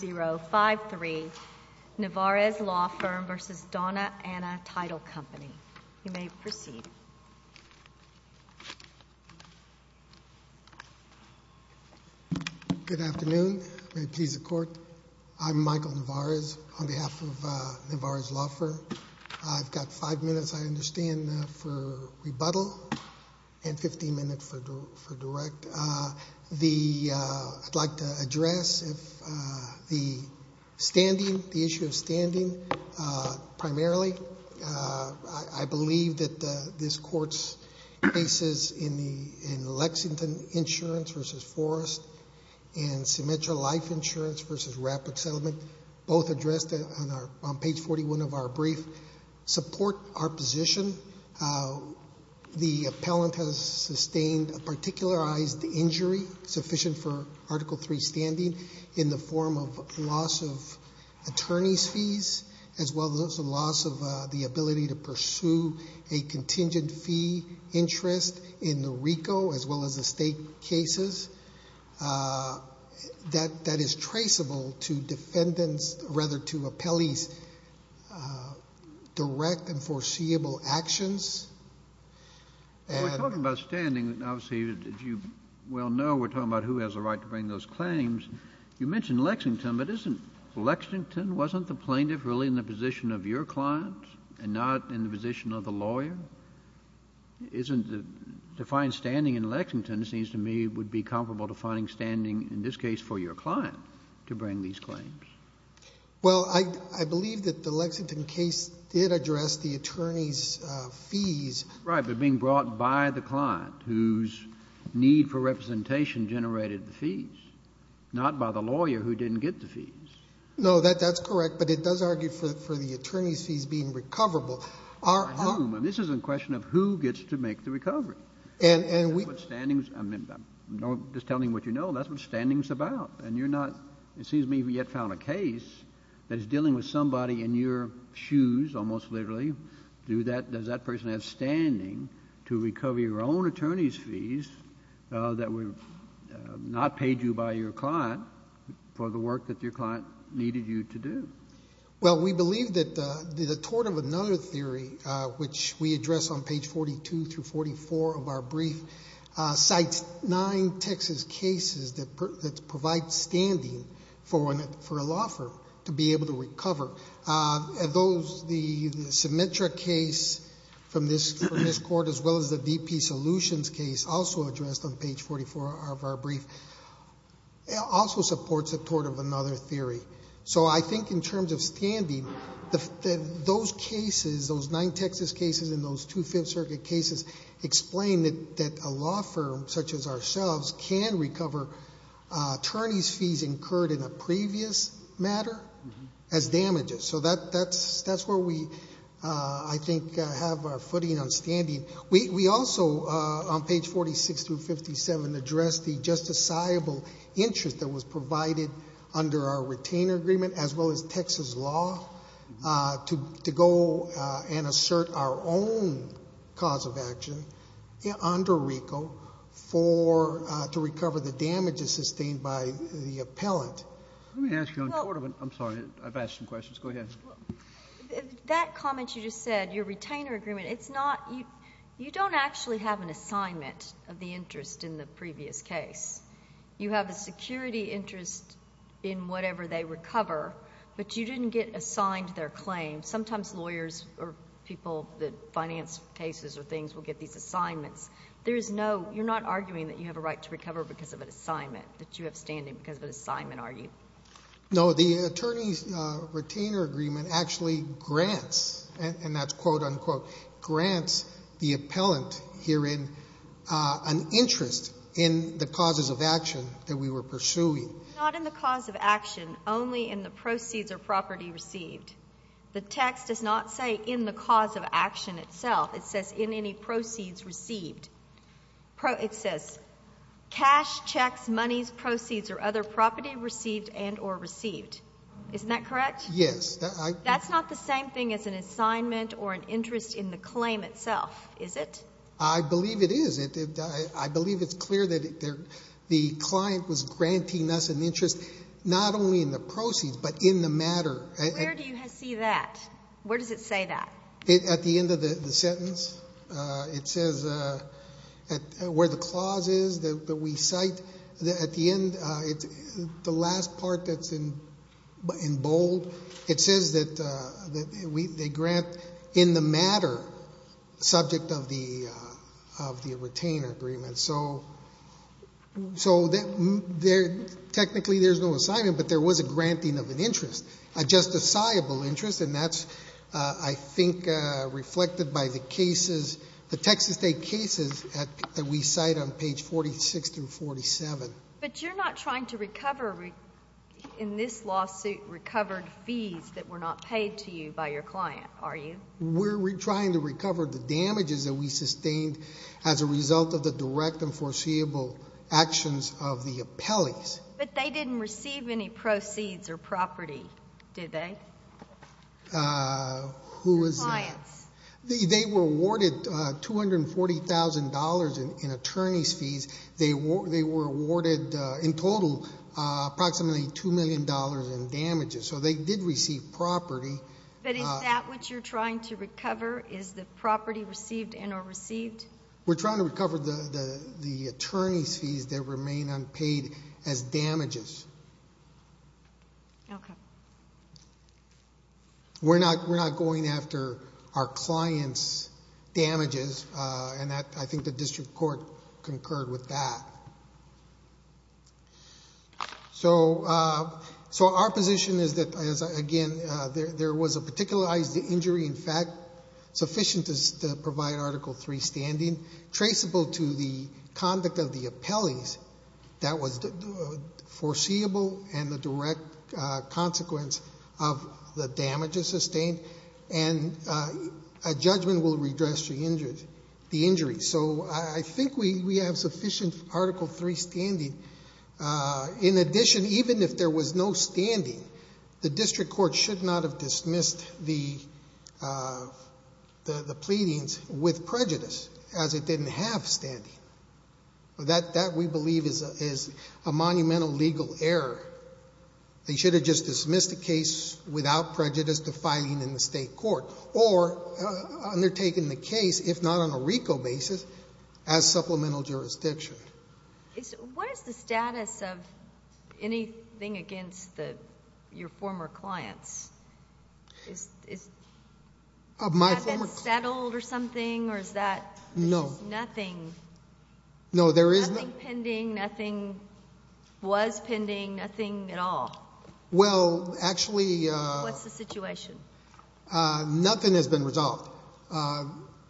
053, Nevarez Law Firm v. Dona Ana Title Company. You may proceed. Good afternoon. May it please the Court. I'm Michael Nevarez on behalf of Nevarez Law Firm. I've got five minutes, I understand, for rebuttal and 15 minutes for direct. I'd like to address the issue of standing primarily. I believe that this Court's cases in Lexington Insurance v. Forest and Symmetra Life Insurance v. Rapid Settlement, both addressed on page 41 of our brief, support our position. The appellant has sustained a particularized injury sufficient for Article III standing in the form of loss of attorney's fees as well as the loss of the ability to pursue a contingent fee interest in the RICO as well as the state cases that is traceable to defendants, rather to appellee's direct and foreseeable actions. When we're talking about standing, obviously, as you well know, we're talking about who has the right to bring those claims. You mentioned Lexington, but isn't Lexington, wasn't the plaintiff really in the position of your client and not in the position of the lawyer? To find standing in Lexington seems to me would be comparable to finding standing, in this case, for your client to bring these claims. Well, I believe that the Lexington case did address the attorney's fees. Right, but being brought by the client whose need for representation generated the fees, not by the lawyer who didn't get the fees. No, that's correct, but it does argue for the attorney's fees being recoverable. This is a question of who gets to make the recovery. Just telling what you know, that's what standing's about. It seems to me we have found a case that is dealing with somebody in your shoes, almost literally. Does that person have standing to recover your own attorney's fees that were not paid you by your client for the work that your client needed you to do? Well, we believe that the tort of another theory, which we address on page 42 through 44 of our brief, cites nine Texas cases that provide standing for a law firm to be able to recover. The Symetra case from this court, as well as the DP Solutions case, also addressed on page 44 of our brief, also supports the tort of another theory. So I think in terms of standing, those cases, those nine Texas cases and those two Fifth Circuit cases, explain that a law firm such as ourselves can recover attorney's fees incurred in a previous matter as damages. So that's where we, I think, have our footing on standing. We also, on page 46 through 57, address the justiciable interest that was provided under our retainer agreement, as well as Texas law to go and assert our own cause of action under RICO to recover the damages sustained by the appellant. Let me ask you on tort of it. I'm sorry. I've asked some questions. Go ahead. That comment you just said, your retainer agreement, it's not... you don't actually have an assignment of the interest in the previous case. You have a security interest in whatever they recover, but you didn't get assigned their claim. Sometimes lawyers or people that finance cases or things will get these assignments. There is no... you're not arguing that you have a right to recover because of an assignment, that you have standing because of an assignment, are you? No. The attorney's retainer agreement actually grants, and that's quote, unquote, grants the appellant herein an interest in the causes of action that we were pursuing. Not in the cause of action, only in the proceeds or property received. The text does not say in the cause of action itself. It says in any proceeds received. It says cash, checks, monies, proceeds, or other property received and or received. Isn't that correct? Yes. That's not the same thing as an assignment or an interest in the claim itself, is it? I believe it is. I believe it's clear that the client was granting us an interest not only in the proceeds but in the matter. Where do you see that? Where does it say that? At the end of the sentence, it says where the clause is that we cite. At the end, the last part that's in bold, it says that they grant in the matter subject of the retainer agreement. So technically there's no assignment, but there was a granting of an interest, a justifiable interest, and that's, I think, reflected by the cases, the Texas State cases that we cite on page 46 through 47. But you're not trying to recover in this lawsuit recovered fees that were not paid to you by your client, are you? We're trying to recover the damages that we sustained as a result of the direct and foreseeable actions of the appellees. But they didn't receive any proceeds or property, did they? Who was that? Your clients. They were awarded $240,000 in attorney's fees. They were awarded in total approximately $2 million in damages. So they did receive property. But is that what you're trying to recover, is the property received and or received? We're trying to recover the attorney's fees that remain unpaid as damages. Okay. We're not going after our client's damages, and I think the district court concurred with that. So our position is that, again, there was a particularized injury, in fact, sufficient to provide Article III standing, traceable to the conduct of the appellees. That was foreseeable and the direct consequence of the damages sustained. And a judgment will redress the injury. So I think we have sufficient Article III standing. In addition, even if there was no standing, the district court should not have dismissed the pleadings with prejudice, as it didn't have standing. That, we believe, is a monumental legal error. They should have just dismissed the case without prejudice to filing in the state court or undertaking the case, if not on a RICO basis, as supplemental jurisdiction. What is the status of anything against your former clients? Has that been settled or something, or is that- No. Nothing? No, there is no- Nothing pending, nothing was pending, nothing at all? Well, actually- What's the situation? Nothing has been resolved.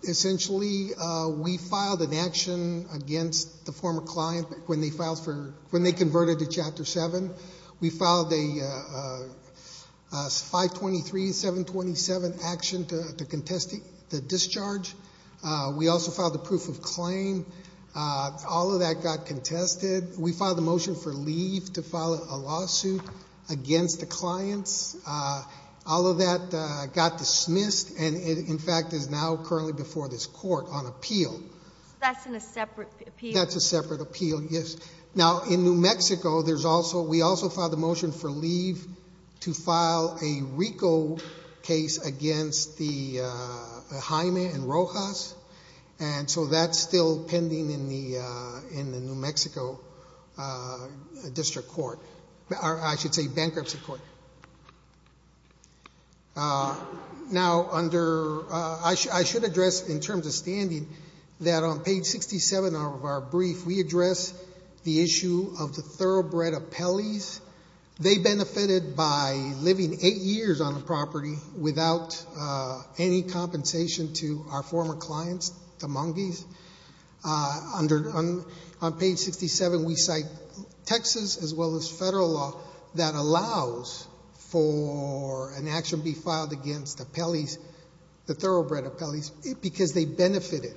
Essentially, we filed an action against the former client when they converted to Chapter 7. We filed a 523-727 action to contest the discharge. We also filed a proof of claim. All of that got contested. We filed a motion for leave to file a lawsuit against the clients. All of that got dismissed and, in fact, is now currently before this court on appeal. That's in a separate appeal? That's a separate appeal, yes. Now, in New Mexico, we also filed a motion for leave to file a RICO case against the Jaime and Rojas. That's still pending in the New Mexico District Court, or I should say bankruptcy court. Now, I should address, in terms of standing, that on page 67 of our brief, we address the issue of the thoroughbred appellees. They benefited by living eight years on the property without any compensation to our former clients, the Mongees. On page 67, we cite Texas, as well as federal law, that allows for an action to be filed against appellees, the thoroughbred appellees, because they benefited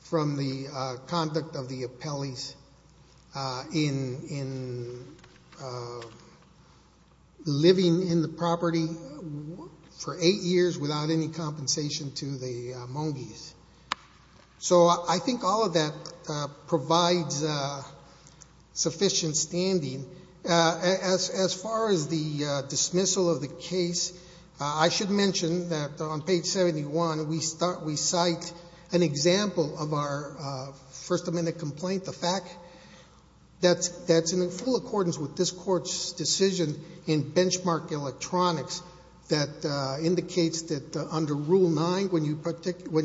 from the conduct of the appellees in living in the property for eight years without any compensation to the Mongees. So I think all of that provides sufficient standing. As far as the dismissal of the case, I should mention that on page 71, we cite an example of our First Amendment complaint, the fact that's in full accordance with this court's decision in benchmark electronics that indicates that under Rule 9, when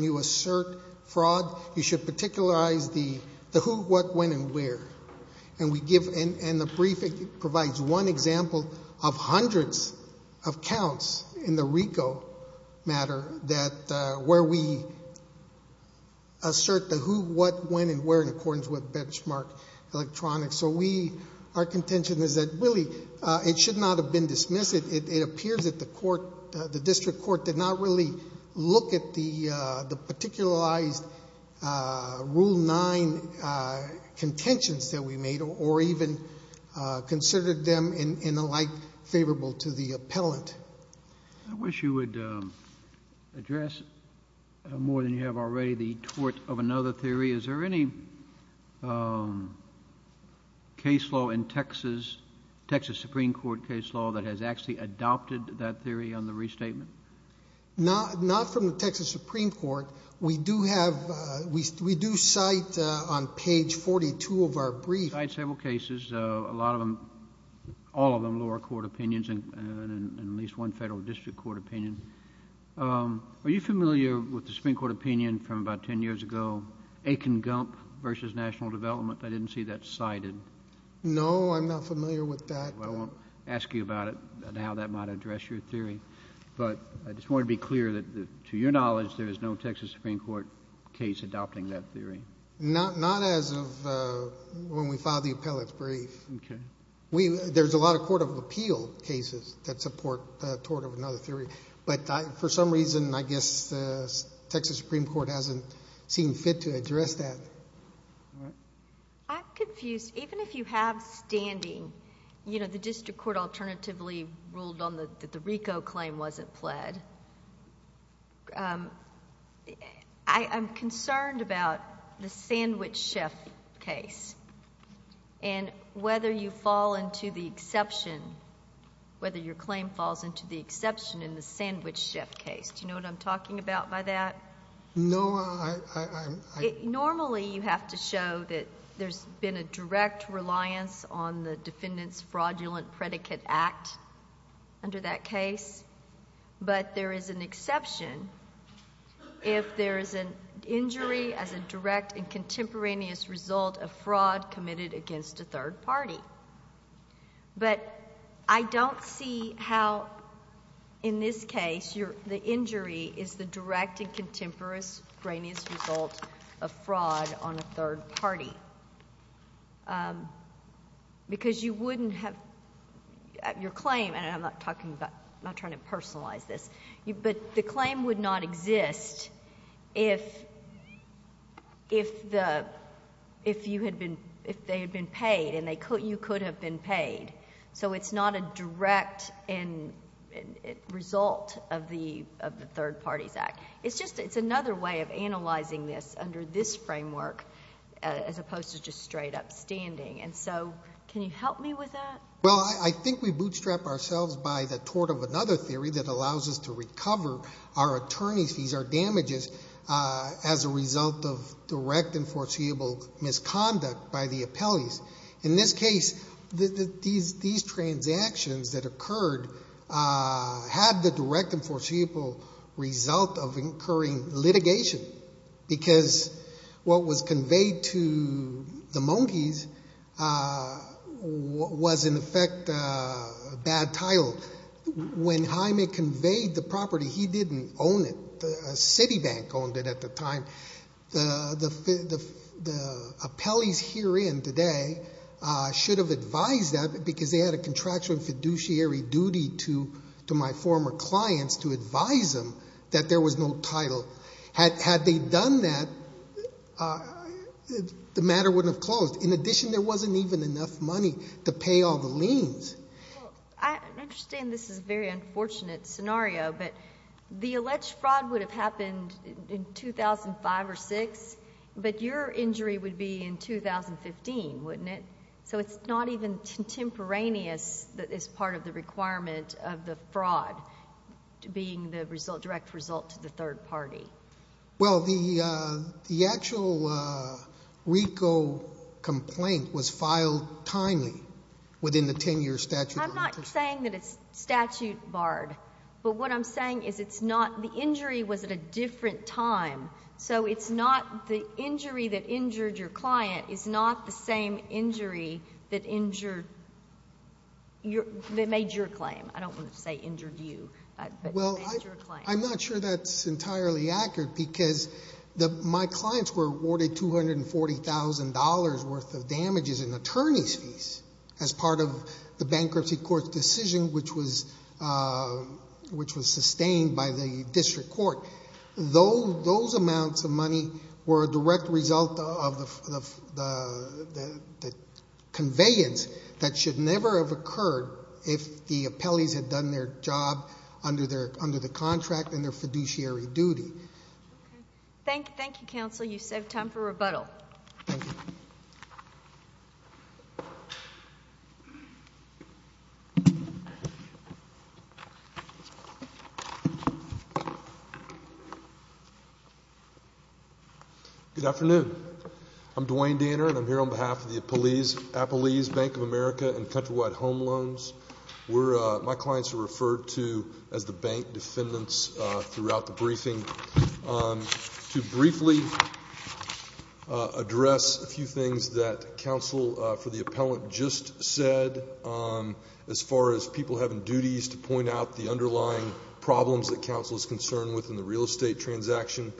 you assert fraud, you should particularize the who, what, when, and where. And the brief provides one example of hundreds of counts in the RICO matter where we assert the who, what, when, and where in accordance with benchmark electronics. So our contention is that, really, it should not have been dismissed. It appears that the district court did not really look at the particularized Rule 9 contentions that we made or even considered them in the light favorable to the appellant. I wish you would address more than you have already the tort of another theory. Is there any case law in Texas, Texas Supreme Court case law, that has actually adopted that theory on the restatement? Not from the Texas Supreme Court. We do cite on page 42 of our brief. We cite several cases, all of them lower court opinions and at least one federal district court opinion. Are you familiar with the Supreme Court opinion from about 10 years ago, Aiken-Gump versus National Development? I didn't see that cited. No, I'm not familiar with that. Well, I won't ask you about it and how that might address your theory. But I just want to be clear that, to your knowledge, there is no Texas Supreme Court case adopting that theory. Not as of when we filed the appellant's brief. Okay. There's a lot of court of appeal cases that support tort of another theory. But for some reason, I guess the Texas Supreme Court hasn't seen fit to address that. All right. I'm confused. Even if you have standing, you know, the district court alternatively ruled on the RICO claim wasn't pled. I'm concerned about the sandwich chef case and whether you fall into the exception, whether your claim falls into the exception in the sandwich chef case. Do you know what I'm talking about by that? No, I... Normally, you have to show that there's been a direct reliance on the defendant's fraudulent predicate act under that case. But there is an exception if there is an injury as a direct and contemporaneous result of fraud committed against a third party. But I don't see how, in this case, the injury is the direct and contemporaneous result of fraud on a third party. Because you wouldn't have... your claim, and I'm not talking about... I'm not trying to personalize this. But the claim would not exist if you had been... if they had been paid and you could have been paid. So it's not a direct result of the Third Parties Act. It's just, it's another way of analyzing this under this framework as opposed to just straight up standing. And so, can you help me with that? Well, I think we bootstrap ourselves by the tort of another theory that allows us to recover our attorney's fees, our damages, as a result of direct and foreseeable misconduct by the appellees. In this case, these transactions that occurred had the direct and foreseeable result of incurring litigation. Because what was conveyed to the monkeys was, in effect, a bad title. When Jaime conveyed the property, he didn't own it. A city bank owned it at the time. The appellees herein today should have advised that because they had a contractual fiduciary duty to my former clients to advise them that there was no title. Had they done that, the matter wouldn't have closed. In addition, there wasn't even enough money to pay all the liens. I understand this is a very unfortunate scenario, but the alleged fraud would have happened in 2005 or 2006, but your injury would be in 2015, wouldn't it? So it's not even contemporaneous as part of the requirement of the fraud being the direct result to the third party. Well, the actual RICO complaint was filed timely within the 10-year statute. I'm not saying that it's statute barred, but what I'm saying is the injury was at a different time. So the injury that injured your client is not the same injury that made your claim. I don't want to say injured you, but made your claim. I'm not sure that's entirely accurate because my clients were awarded $240,000 worth of damages in attorney's fees as part of the bankruptcy court's decision which was sustained by the district court. Those amounts of money were a direct result of the conveyance that should never have occurred if the appellees had done their job under the contract and their fiduciary duty. Thank you, counsel. You save time for rebuttal. Thank you. Good afternoon. I'm Dwayne Danner, and I'm here on behalf of the Appellees Bank of America and Countrywide Home Loans. My clients are referred to as the bank defendants throughout the briefing. To briefly address a few things that counsel for the appellant just said, as far as people having duties to point out the underlying problems that counsel is concerned with in the real estate transaction,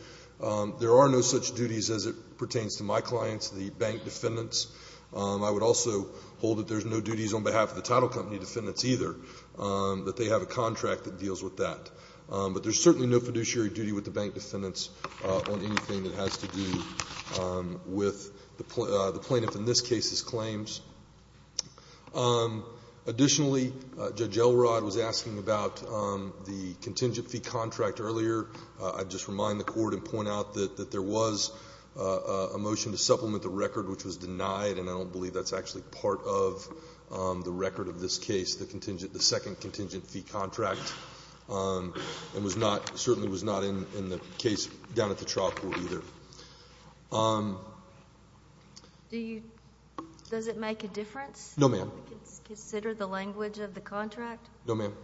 there are no such duties as it pertains to my clients, the bank defendants. I would also hold that there's no duties on behalf of the title company defendants either, that they have a contract that deals with that. But there's certainly no fiduciary duty with the bank defendants on anything that has to do with the plaintiff in this case's claims. Additionally, Judge Elrod was asking about the contingent fee contract earlier. I'd just remind the Court and point out that there was a motion to supplement the record which was denied, and I don't believe that's actually part of the record of this case, the second contingent fee contract, and certainly was not in the case down at the trial court either. Does it make a difference? No, ma'am. Consider the language of the contract? No, ma'am.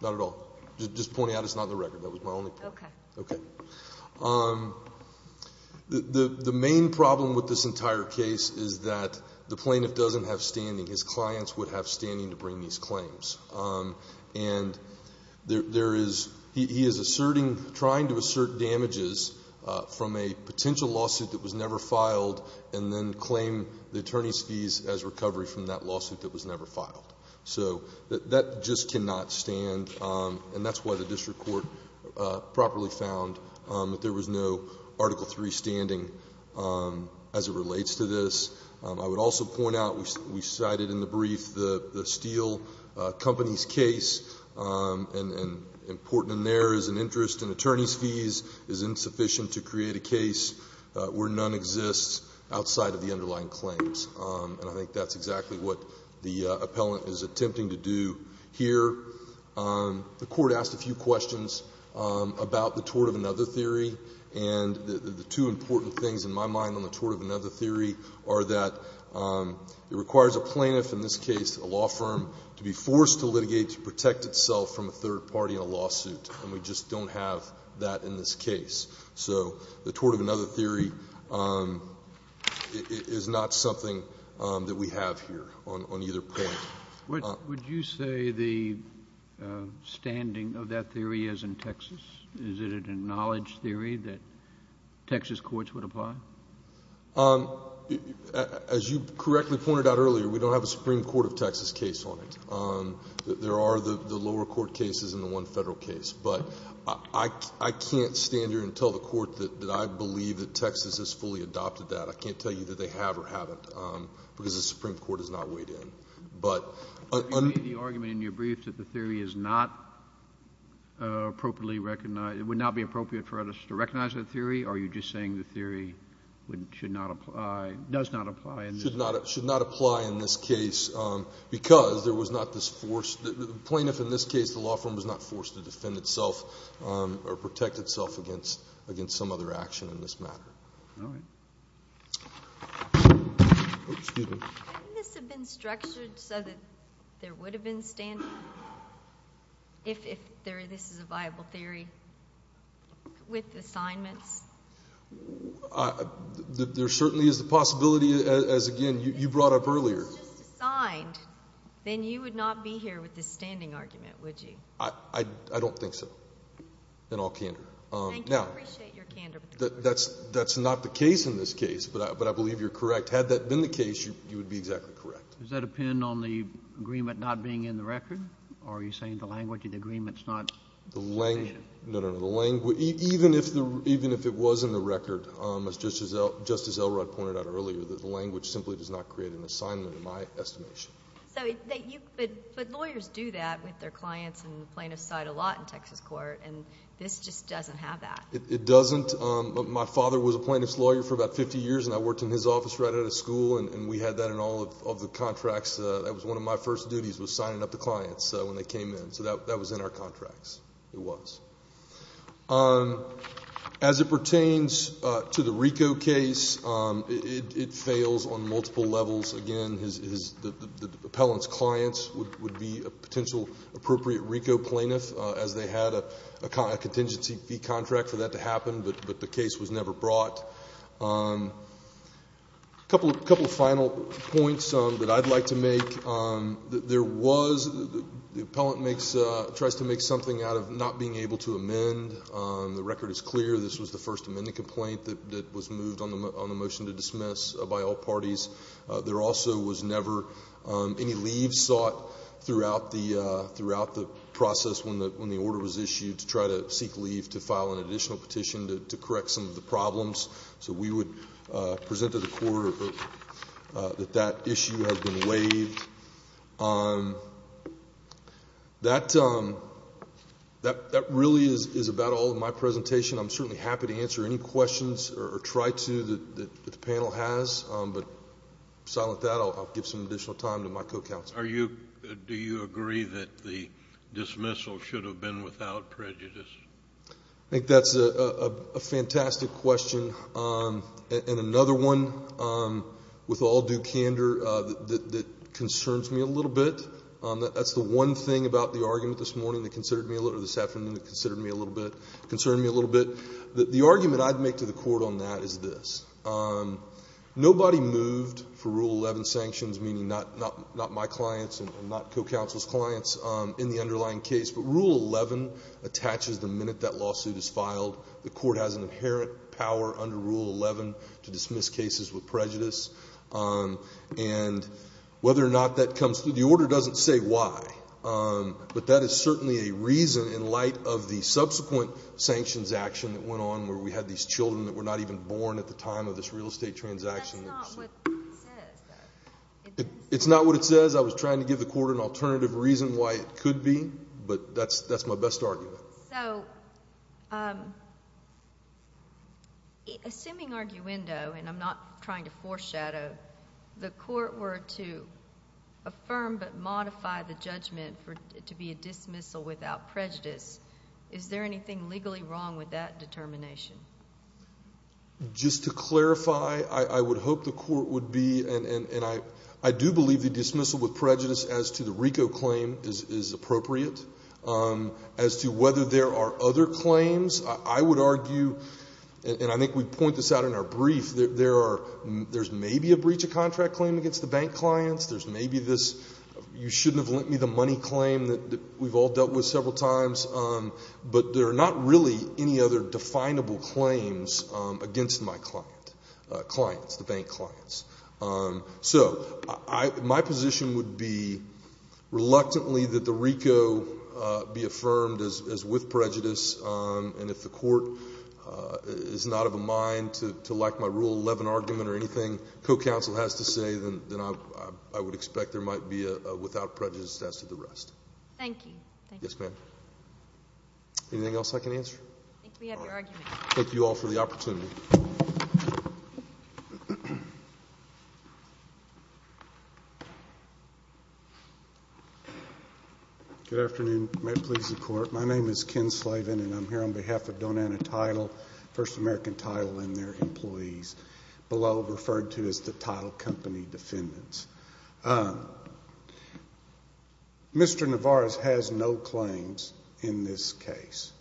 Not at all. Just pointing out it's not in the record. That was my only point. Okay. Okay. The main problem with this entire case is that the plaintiff doesn't have standing. His clients would have standing to bring these claims. And there is he is asserting, trying to assert damages from a potential lawsuit that was never filed and then claim the attorney's fees as recovery from that lawsuit that was never filed. So that just cannot stand, and that's why the district court properly found that there was no Article III standing as it relates to this. I would also point out we cited in the brief the Steele Company's case, and important in there is an interest in attorney's fees is insufficient to create a case where none exists outside of the underlying claims. And I think that's exactly what the appellant is attempting to do here. The court asked a few questions about the tort of another theory, and the two important things in my mind on the tort of another theory are that it requires a plaintiff, in this case a law firm, to be forced to litigate to protect itself from a third party in a lawsuit, and we just don't have that in this case. So the tort of another theory is not something that we have here on either point. Would you say the standing of that theory is in Texas? Is it a knowledge theory that Texas courts would apply? As you correctly pointed out earlier, we don't have a Supreme Court of Texas case on it. There are the lower court cases and the one federal case. But I can't stand here and tell the court that I believe that Texas has fully adopted that. I can't tell you that they have or haven't, because the Supreme Court has not weighed in. But on the argument in your brief that the theory is not appropriately recognized, it would not be appropriate for us to recognize that theory, are you just saying the theory should not apply, does not apply in this case? It should not apply in this case because there was not this force. The plaintiff in this case, the law firm was not forced to defend itself or protect itself against some other action in this matter. Couldn't this have been structured so that there would have been standing, if this is a viable theory, with assignments? There certainly is the possibility, as again you brought up earlier. If this was just assigned, then you would not be here with this standing argument, would you? I don't think so, in all candor. Thank you. I appreciate your candor. That's not the case in this case, but I believe you're correct. Had that been the case, you would be exactly correct. Does that depend on the agreement not being in the record, or are you saying the language of the agreement is not stated? No, no, no. Even if it was in the record, just as Elrod pointed out earlier, the language simply does not create an assignment in my estimation. But lawyers do that with their clients and the plaintiff's side a lot in Texas court, and this just doesn't have that. It doesn't. My father was a plaintiff's lawyer for about 50 years, and I worked in his office right out of school, and we had that in all of the contracts. That was one of my first duties was signing up the clients when they came in, so that was in our contracts. It was. As it pertains to the RICO case, it fails on multiple levels. Again, the appellant's clients would be a potential appropriate RICO plaintiff, as they had a contingency fee contract for that to happen, but the case was never brought. A couple of final points that I'd like to make. There was the appellant tries to make something out of not being able to amend. The record is clear. This was the first amendment complaint that was moved on the motion to dismiss by all parties. There also was never any leave sought throughout the process when the order was issued to try to seek leave to file an additional petition to correct some of the problems. So we would present to the court that that issue has been waived. That really is about all of my presentation. I'm certainly happy to answer any questions or try to that the panel has, but aside from that, I'll give some additional time to my co-counsel. Do you agree that the dismissal should have been without prejudice? I think that's a fantastic question, and another one with all due candor that concerns me a little bit. That's the one thing about the argument this morning that considered me a little bit, or this afternoon that concerned me a little bit. The argument I'd make to the court on that is this. Nobody moved for Rule 11 sanctions, meaning not my clients and not co-counsel's clients, in the underlying case, but Rule 11 attaches the minute that lawsuit is filed. The court has an inherent power under Rule 11 to dismiss cases with prejudice. And whether or not that comes through, the order doesn't say why, but that is certainly a reason in light of the subsequent sanctions action that went on where we had these children that were not even born at the time of this real estate transaction. That's not what it says, though. It's not what it says. I was trying to give the court an alternative reason why it could be, but that's my best argument. So assuming arguendo, and I'm not trying to foreshadow, the court were to affirm but modify the judgment to be a dismissal without prejudice, is there anything legally wrong with that determination? Just to clarify, I would hope the court would be, and I do believe the dismissal with prejudice as to the RICO claim is appropriate. As to whether there are other claims, I would argue, and I think we point this out in our brief, there's maybe a breach of contract claim against the bank clients. There's maybe this you shouldn't have lent me the money claim that we've all dealt with several times. But there are not really any other definable claims against my client, clients, the bank clients. So my position would be reluctantly that the RICO be affirmed as with prejudice, and if the court is not of a mind to like my Rule 11 argument or anything co-counsel has to say, then I would expect there might be a without prejudice as to the rest. Thank you. Yes, ma'am. Anything else I can answer? I think we have your argument. All right. Thank you all for the opportunity. Good afternoon. May it please the Court. My name is Ken Slaven, and I'm here on behalf of Donata Title, First American Title and their employees, below referred to as the Title Company defendants. Mr. Navarez has no claims in this case.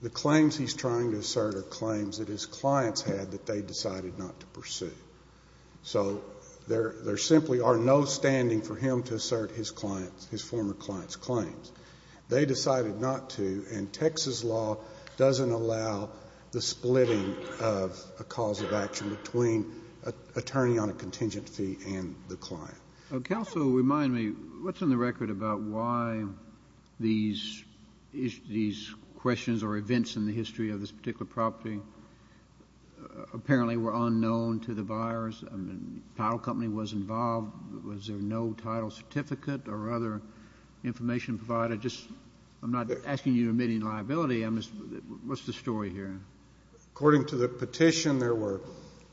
The claims he's trying to assert are claims that his clients had that they decided not to pursue. So there simply are no standing for him to assert his former clients' claims. They decided not to, and Texas law doesn't allow the splitting of a cause of action between an attorney on a contingent fee and the client. Counsel, remind me, what's on the record about why these questions or events in the history of this particular property apparently were unknown to the buyers? The Title Company was involved. Was there no title certificate or other information provided? I'm not asking you to admit any liability. What's the story here? According to the petition, there were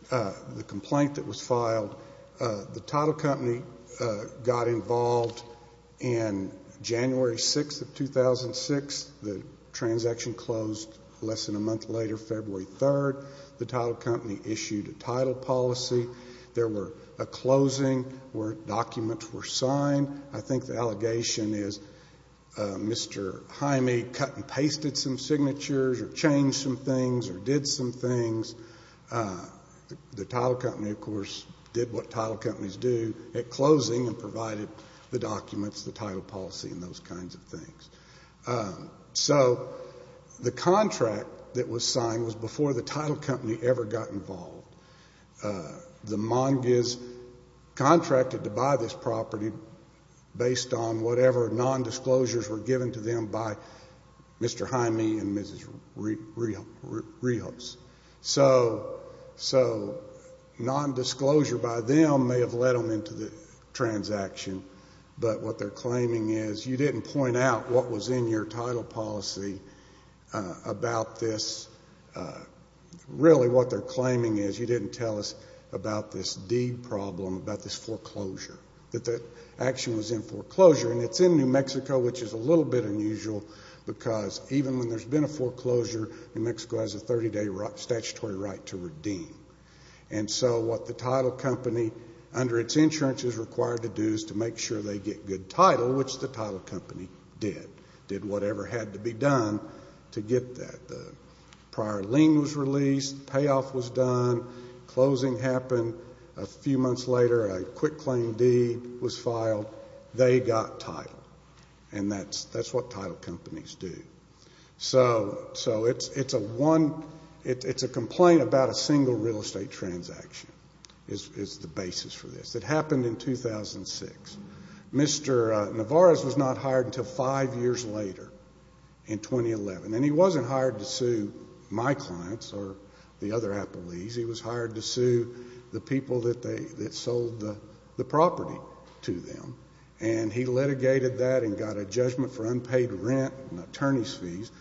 the complaint that was filed. The Title Company got involved in January 6th of 2006. The transaction closed less than a month later, February 3rd. The Title Company issued a title policy. There were a closing where documents were signed. I think the allegation is Mr. Jaime cut and pasted some signatures or changed some things or did some things. The Title Company, of course, did what title companies do at closing and provided the documents, the title policy, and those kinds of things. So the contract that was signed was before the Title Company ever got involved. The Mongiz contracted to buy this property based on whatever nondisclosures were given to them by Mr. Jaime and Mrs. Rios. So nondisclosure by them may have led them into the transaction, but what they're claiming is you didn't point out what was in your title policy about this. Really, what they're claiming is you didn't tell us about this deed problem, about this foreclosure, that the action was in foreclosure. And it's in New Mexico, which is a little bit unusual, because even when there's been a foreclosure, New Mexico has a 30-day statutory right to redeem. And so what the Title Company, under its insurance, is required to do is to make sure they get good title, which the Title Company did, did whatever had to be done to get that. The prior lien was released. The payoff was done. Closing happened. A few months later, a quick claim deed was filed. They got title. And that's what title companies do. So it's a complaint about a single real estate transaction is the basis for this. It happened in 2006. Mr. Nevarez was not hired until five years later, in 2011. And he wasn't hired to sue my clients or the other appellees. He was hired to sue the people that sold the property to them. And he litigated that and got a judgment for unpaid rent and attorney's fees.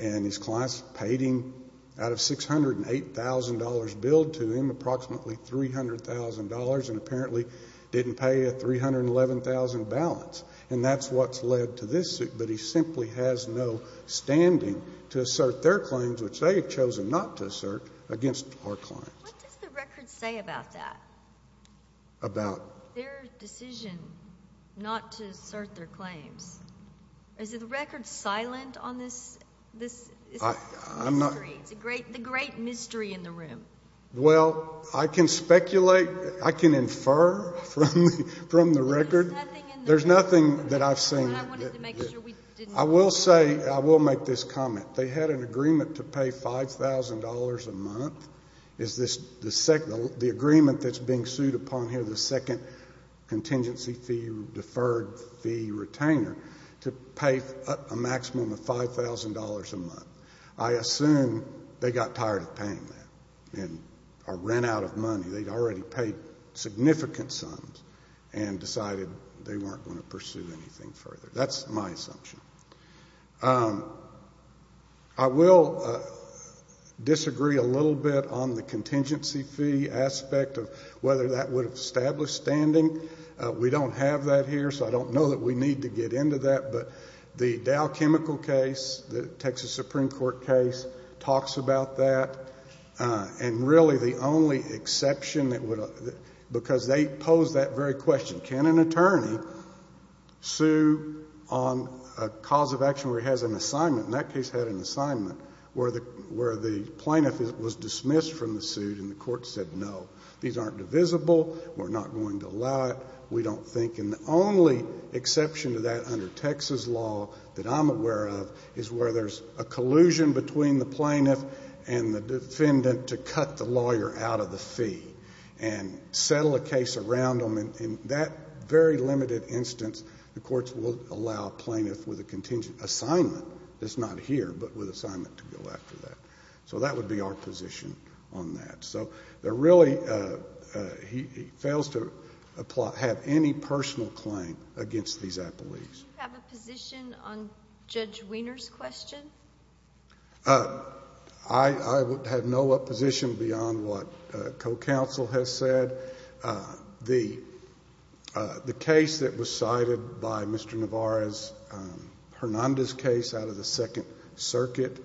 And his clients paid him, out of $608,000 billed to him, approximately $300,000 and apparently didn't pay a $311,000 balance. And that's what's led to this suit. But he simply has no standing to assert their claims, which they have chosen not to assert, against our clients. What does the record say about that? About? Their decision not to assert their claims. Is the record silent on this mystery, the great mystery in the room? Well, I can speculate, I can infer from the record. There's nothing that I've seen. I will say, I will make this comment. They had an agreement to pay $5,000 a month. The agreement that's being sued upon here, the second contingency fee deferred fee retainer, to pay a maximum of $5,000 a month. I assume they got tired of paying that and ran out of money. They'd already paid significant sums and decided they weren't going to pursue anything further. That's my assumption. I will disagree a little bit on the contingency fee aspect of whether that would have established standing. We don't have that here, so I don't know that we need to get into that. But the Dow Chemical case, the Texas Supreme Court case, talks about that. And really the only exception that would, because they pose that very question, can an attorney sue on a cause of action where he has an assignment? And that case had an assignment where the plaintiff was dismissed from the suit and the court said, no, these aren't divisible, we're not going to allow it, we don't think. And the only exception to that under Texas law that I'm aware of is where there's a collusion between the plaintiff and the defendant to cut the lawyer out of the fee and settle a case around them. In that very limited instance, the courts will allow a plaintiff with an assignment that's not here, but with an assignment to go after that. So that would be our position on that. So there really, he fails to have any personal claim against these appellees. Do you have a position on Judge Wiener's question? I have no opposition beyond what co-counsel has said. The case that was cited by Mr. Navarro's, Hernandez's case out of the Second Circuit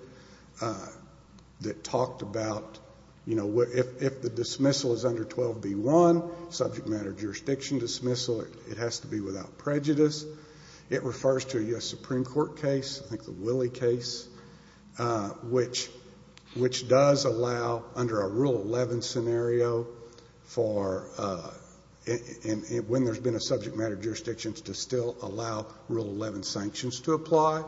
that talked about, you know, if the dismissal is under 12b-1, subject matter jurisdiction dismissal, it has to be without prejudice. It refers to a U.S. Supreme Court case, I think the Willie case, which does allow under a Rule 11 scenario for when there's been a subject matter jurisdiction to still allow Rule 11 sanctions to apply.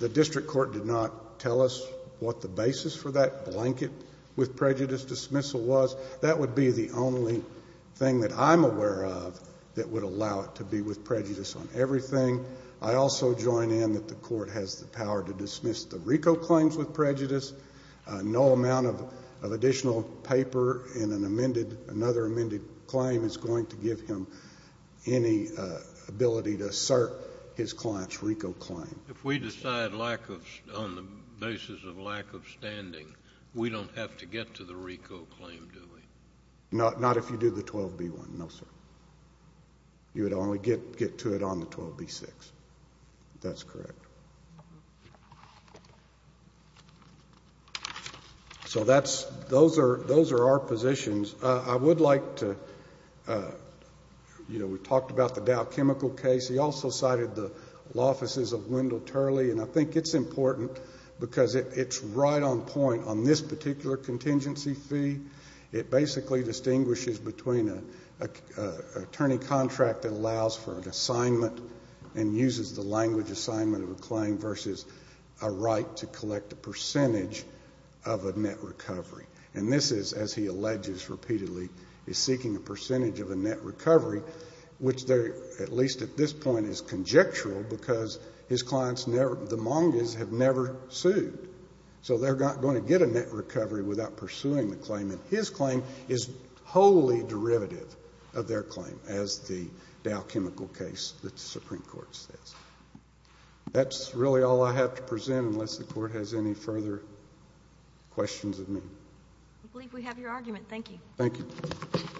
The district court did not tell us what the basis for that blanket with prejudice dismissal was. That would be the only thing that I'm aware of that would allow it to be with prejudice on everything. I also join in that the court has the power to dismiss the RICO claims with prejudice. No amount of additional paper in another amended claim is going to give him any ability to assert his client's RICO claim. If we decide on the basis of lack of standing, we don't have to get to the RICO claim, do we? Not if you do the 12b-1, no, sir. You would only get to it on the 12b-6. That's correct. So those are our positions. I would like to, you know, we talked about the Dow Chemical case. He also cited the Law Offices of Wendell Turley, and I think it's important because it's right on point on this particular contingency fee. It basically distinguishes between an attorney contract that allows for an assignment and uses the language assignment of a claim versus a right to collect a percentage of a net recovery. And this is, as he alleges repeatedly, is seeking a percentage of a net recovery, which at least at this point is conjectural because his clients, the Mongas, have never sued. So they're not going to get a net recovery without pursuing the claim, and his claim is wholly derivative of their claim, as the Dow Chemical case, the Supreme Court says. That's really all I have to present unless the Court has any further questions of me. I believe we have your argument. Thank you. Thank you. Thank you.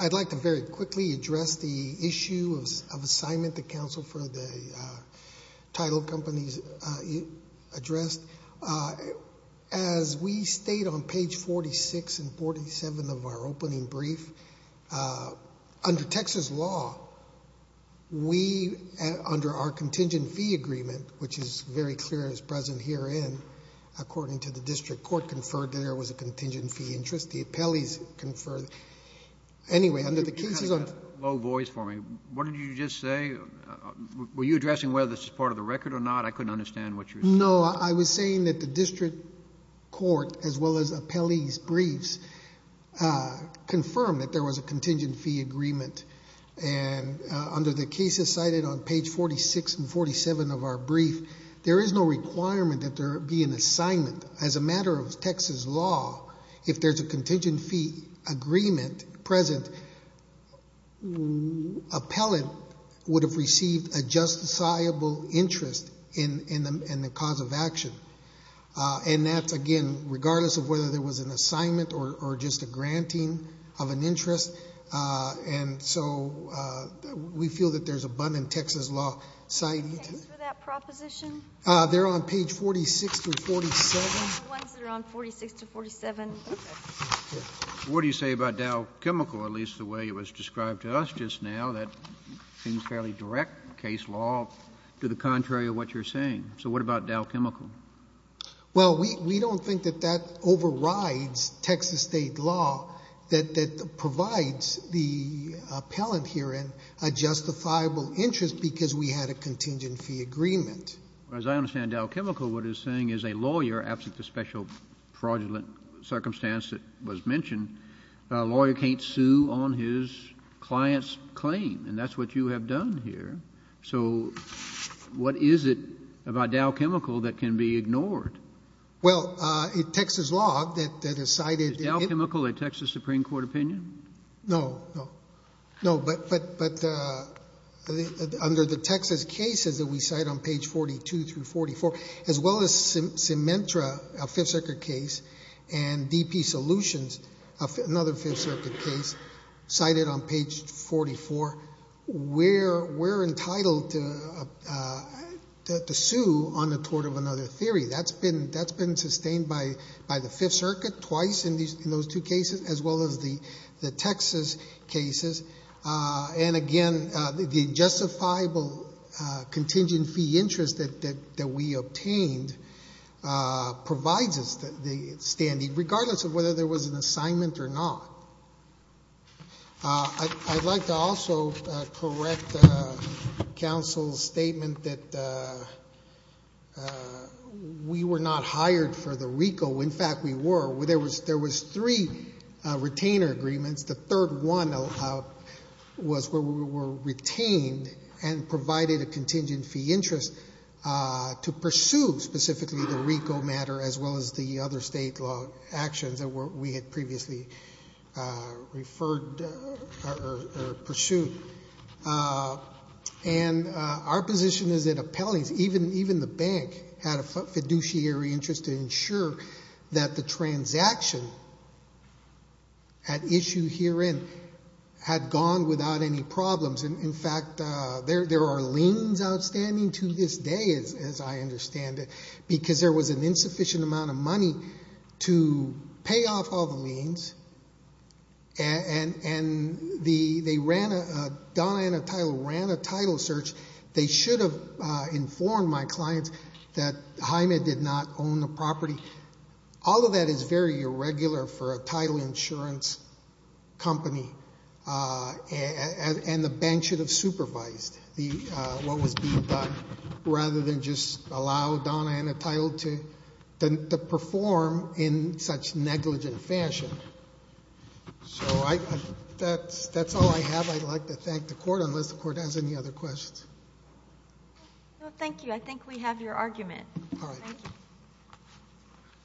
I'd like to very quickly address the issue of assignment to counsel for the title companies addressed. As we state on page 46 and 47 of our opening brief, under Texas law, we, under our contingent fee agreement, which is very clear and is present herein, according to the district court, conferred that there was a contingent fee interest. The appellees conferred. Anyway, under the cases on the— You kind of got a low voice for me. What did you just say? Were you addressing whether this is part of the record or not? I couldn't understand what you were saying. No, I was saying that the district court, as well as appellees' briefs, confirmed that there was a contingent fee agreement. And under the cases cited on page 46 and 47 of our brief, there is no requirement that there be an assignment. As a matter of Texas law, if there's a contingent fee agreement present, an appellant would have received a justifiable interest in the cause of action. And that's, again, regardless of whether there was an assignment or just a granting of an interest. And so we feel that there's abundant Texas law— Thanks for that proposition. They're on page 46 through 47. The ones that are on 46 through 47. Okay. What do you say about Dow Chemical, at least the way it was described to us just now? That seems fairly direct case law to the contrary of what you're saying. So what about Dow Chemical? Well, we don't think that that overrides Texas state law, that provides the appellant herein a justifiable interest because we had a contingent fee agreement. As I understand, Dow Chemical, what it's saying is a lawyer, absent the special fraudulent circumstance that was mentioned, a lawyer can't sue on his client's claim. And that's what you have done here. So what is it about Dow Chemical that can be ignored? Well, in Texas law, that is cited— Is Dow Chemical a Texas Supreme Court opinion? No, no. No, but under the Texas cases that we cite on page 42 through 44, as well as Symentra, a Fifth Circuit case, and DP Solutions, another Fifth Circuit case, cited on page 44, we're entitled to sue on the tort of another theory. That's been sustained by the Fifth Circuit twice in those two cases, as well as the Texas cases. And, again, the justifiable contingent fee interest that we obtained provides us the standing, regardless of whether there was an assignment or not. I'd like to also correct counsel's statement that we were not hired for the RICO. In fact, we were. There was three retainer agreements. The third one was where we were retained and provided a contingent fee interest to pursue specifically the RICO matter, as well as the other state law actions that we had previously referred or pursued. And our position is that appellees, even the bank, had a fiduciary interest to ensure that the transaction at issue herein had gone without any problems. And, in fact, there are liens outstanding to this day, as I understand it, because there was an insufficient amount of money to pay off all the liens. And they ran a title search. They should have informed my clients that Hyman did not own the property. All of that is very irregular for a title insurance company, and the bank should have supervised what was being done, rather than just allow Donna and the title to perform in such negligent fashion. So that's all I have. I'd like to thank the Court, unless the Court has any other questions. No, thank you. I think we have your argument. All right. Thank you.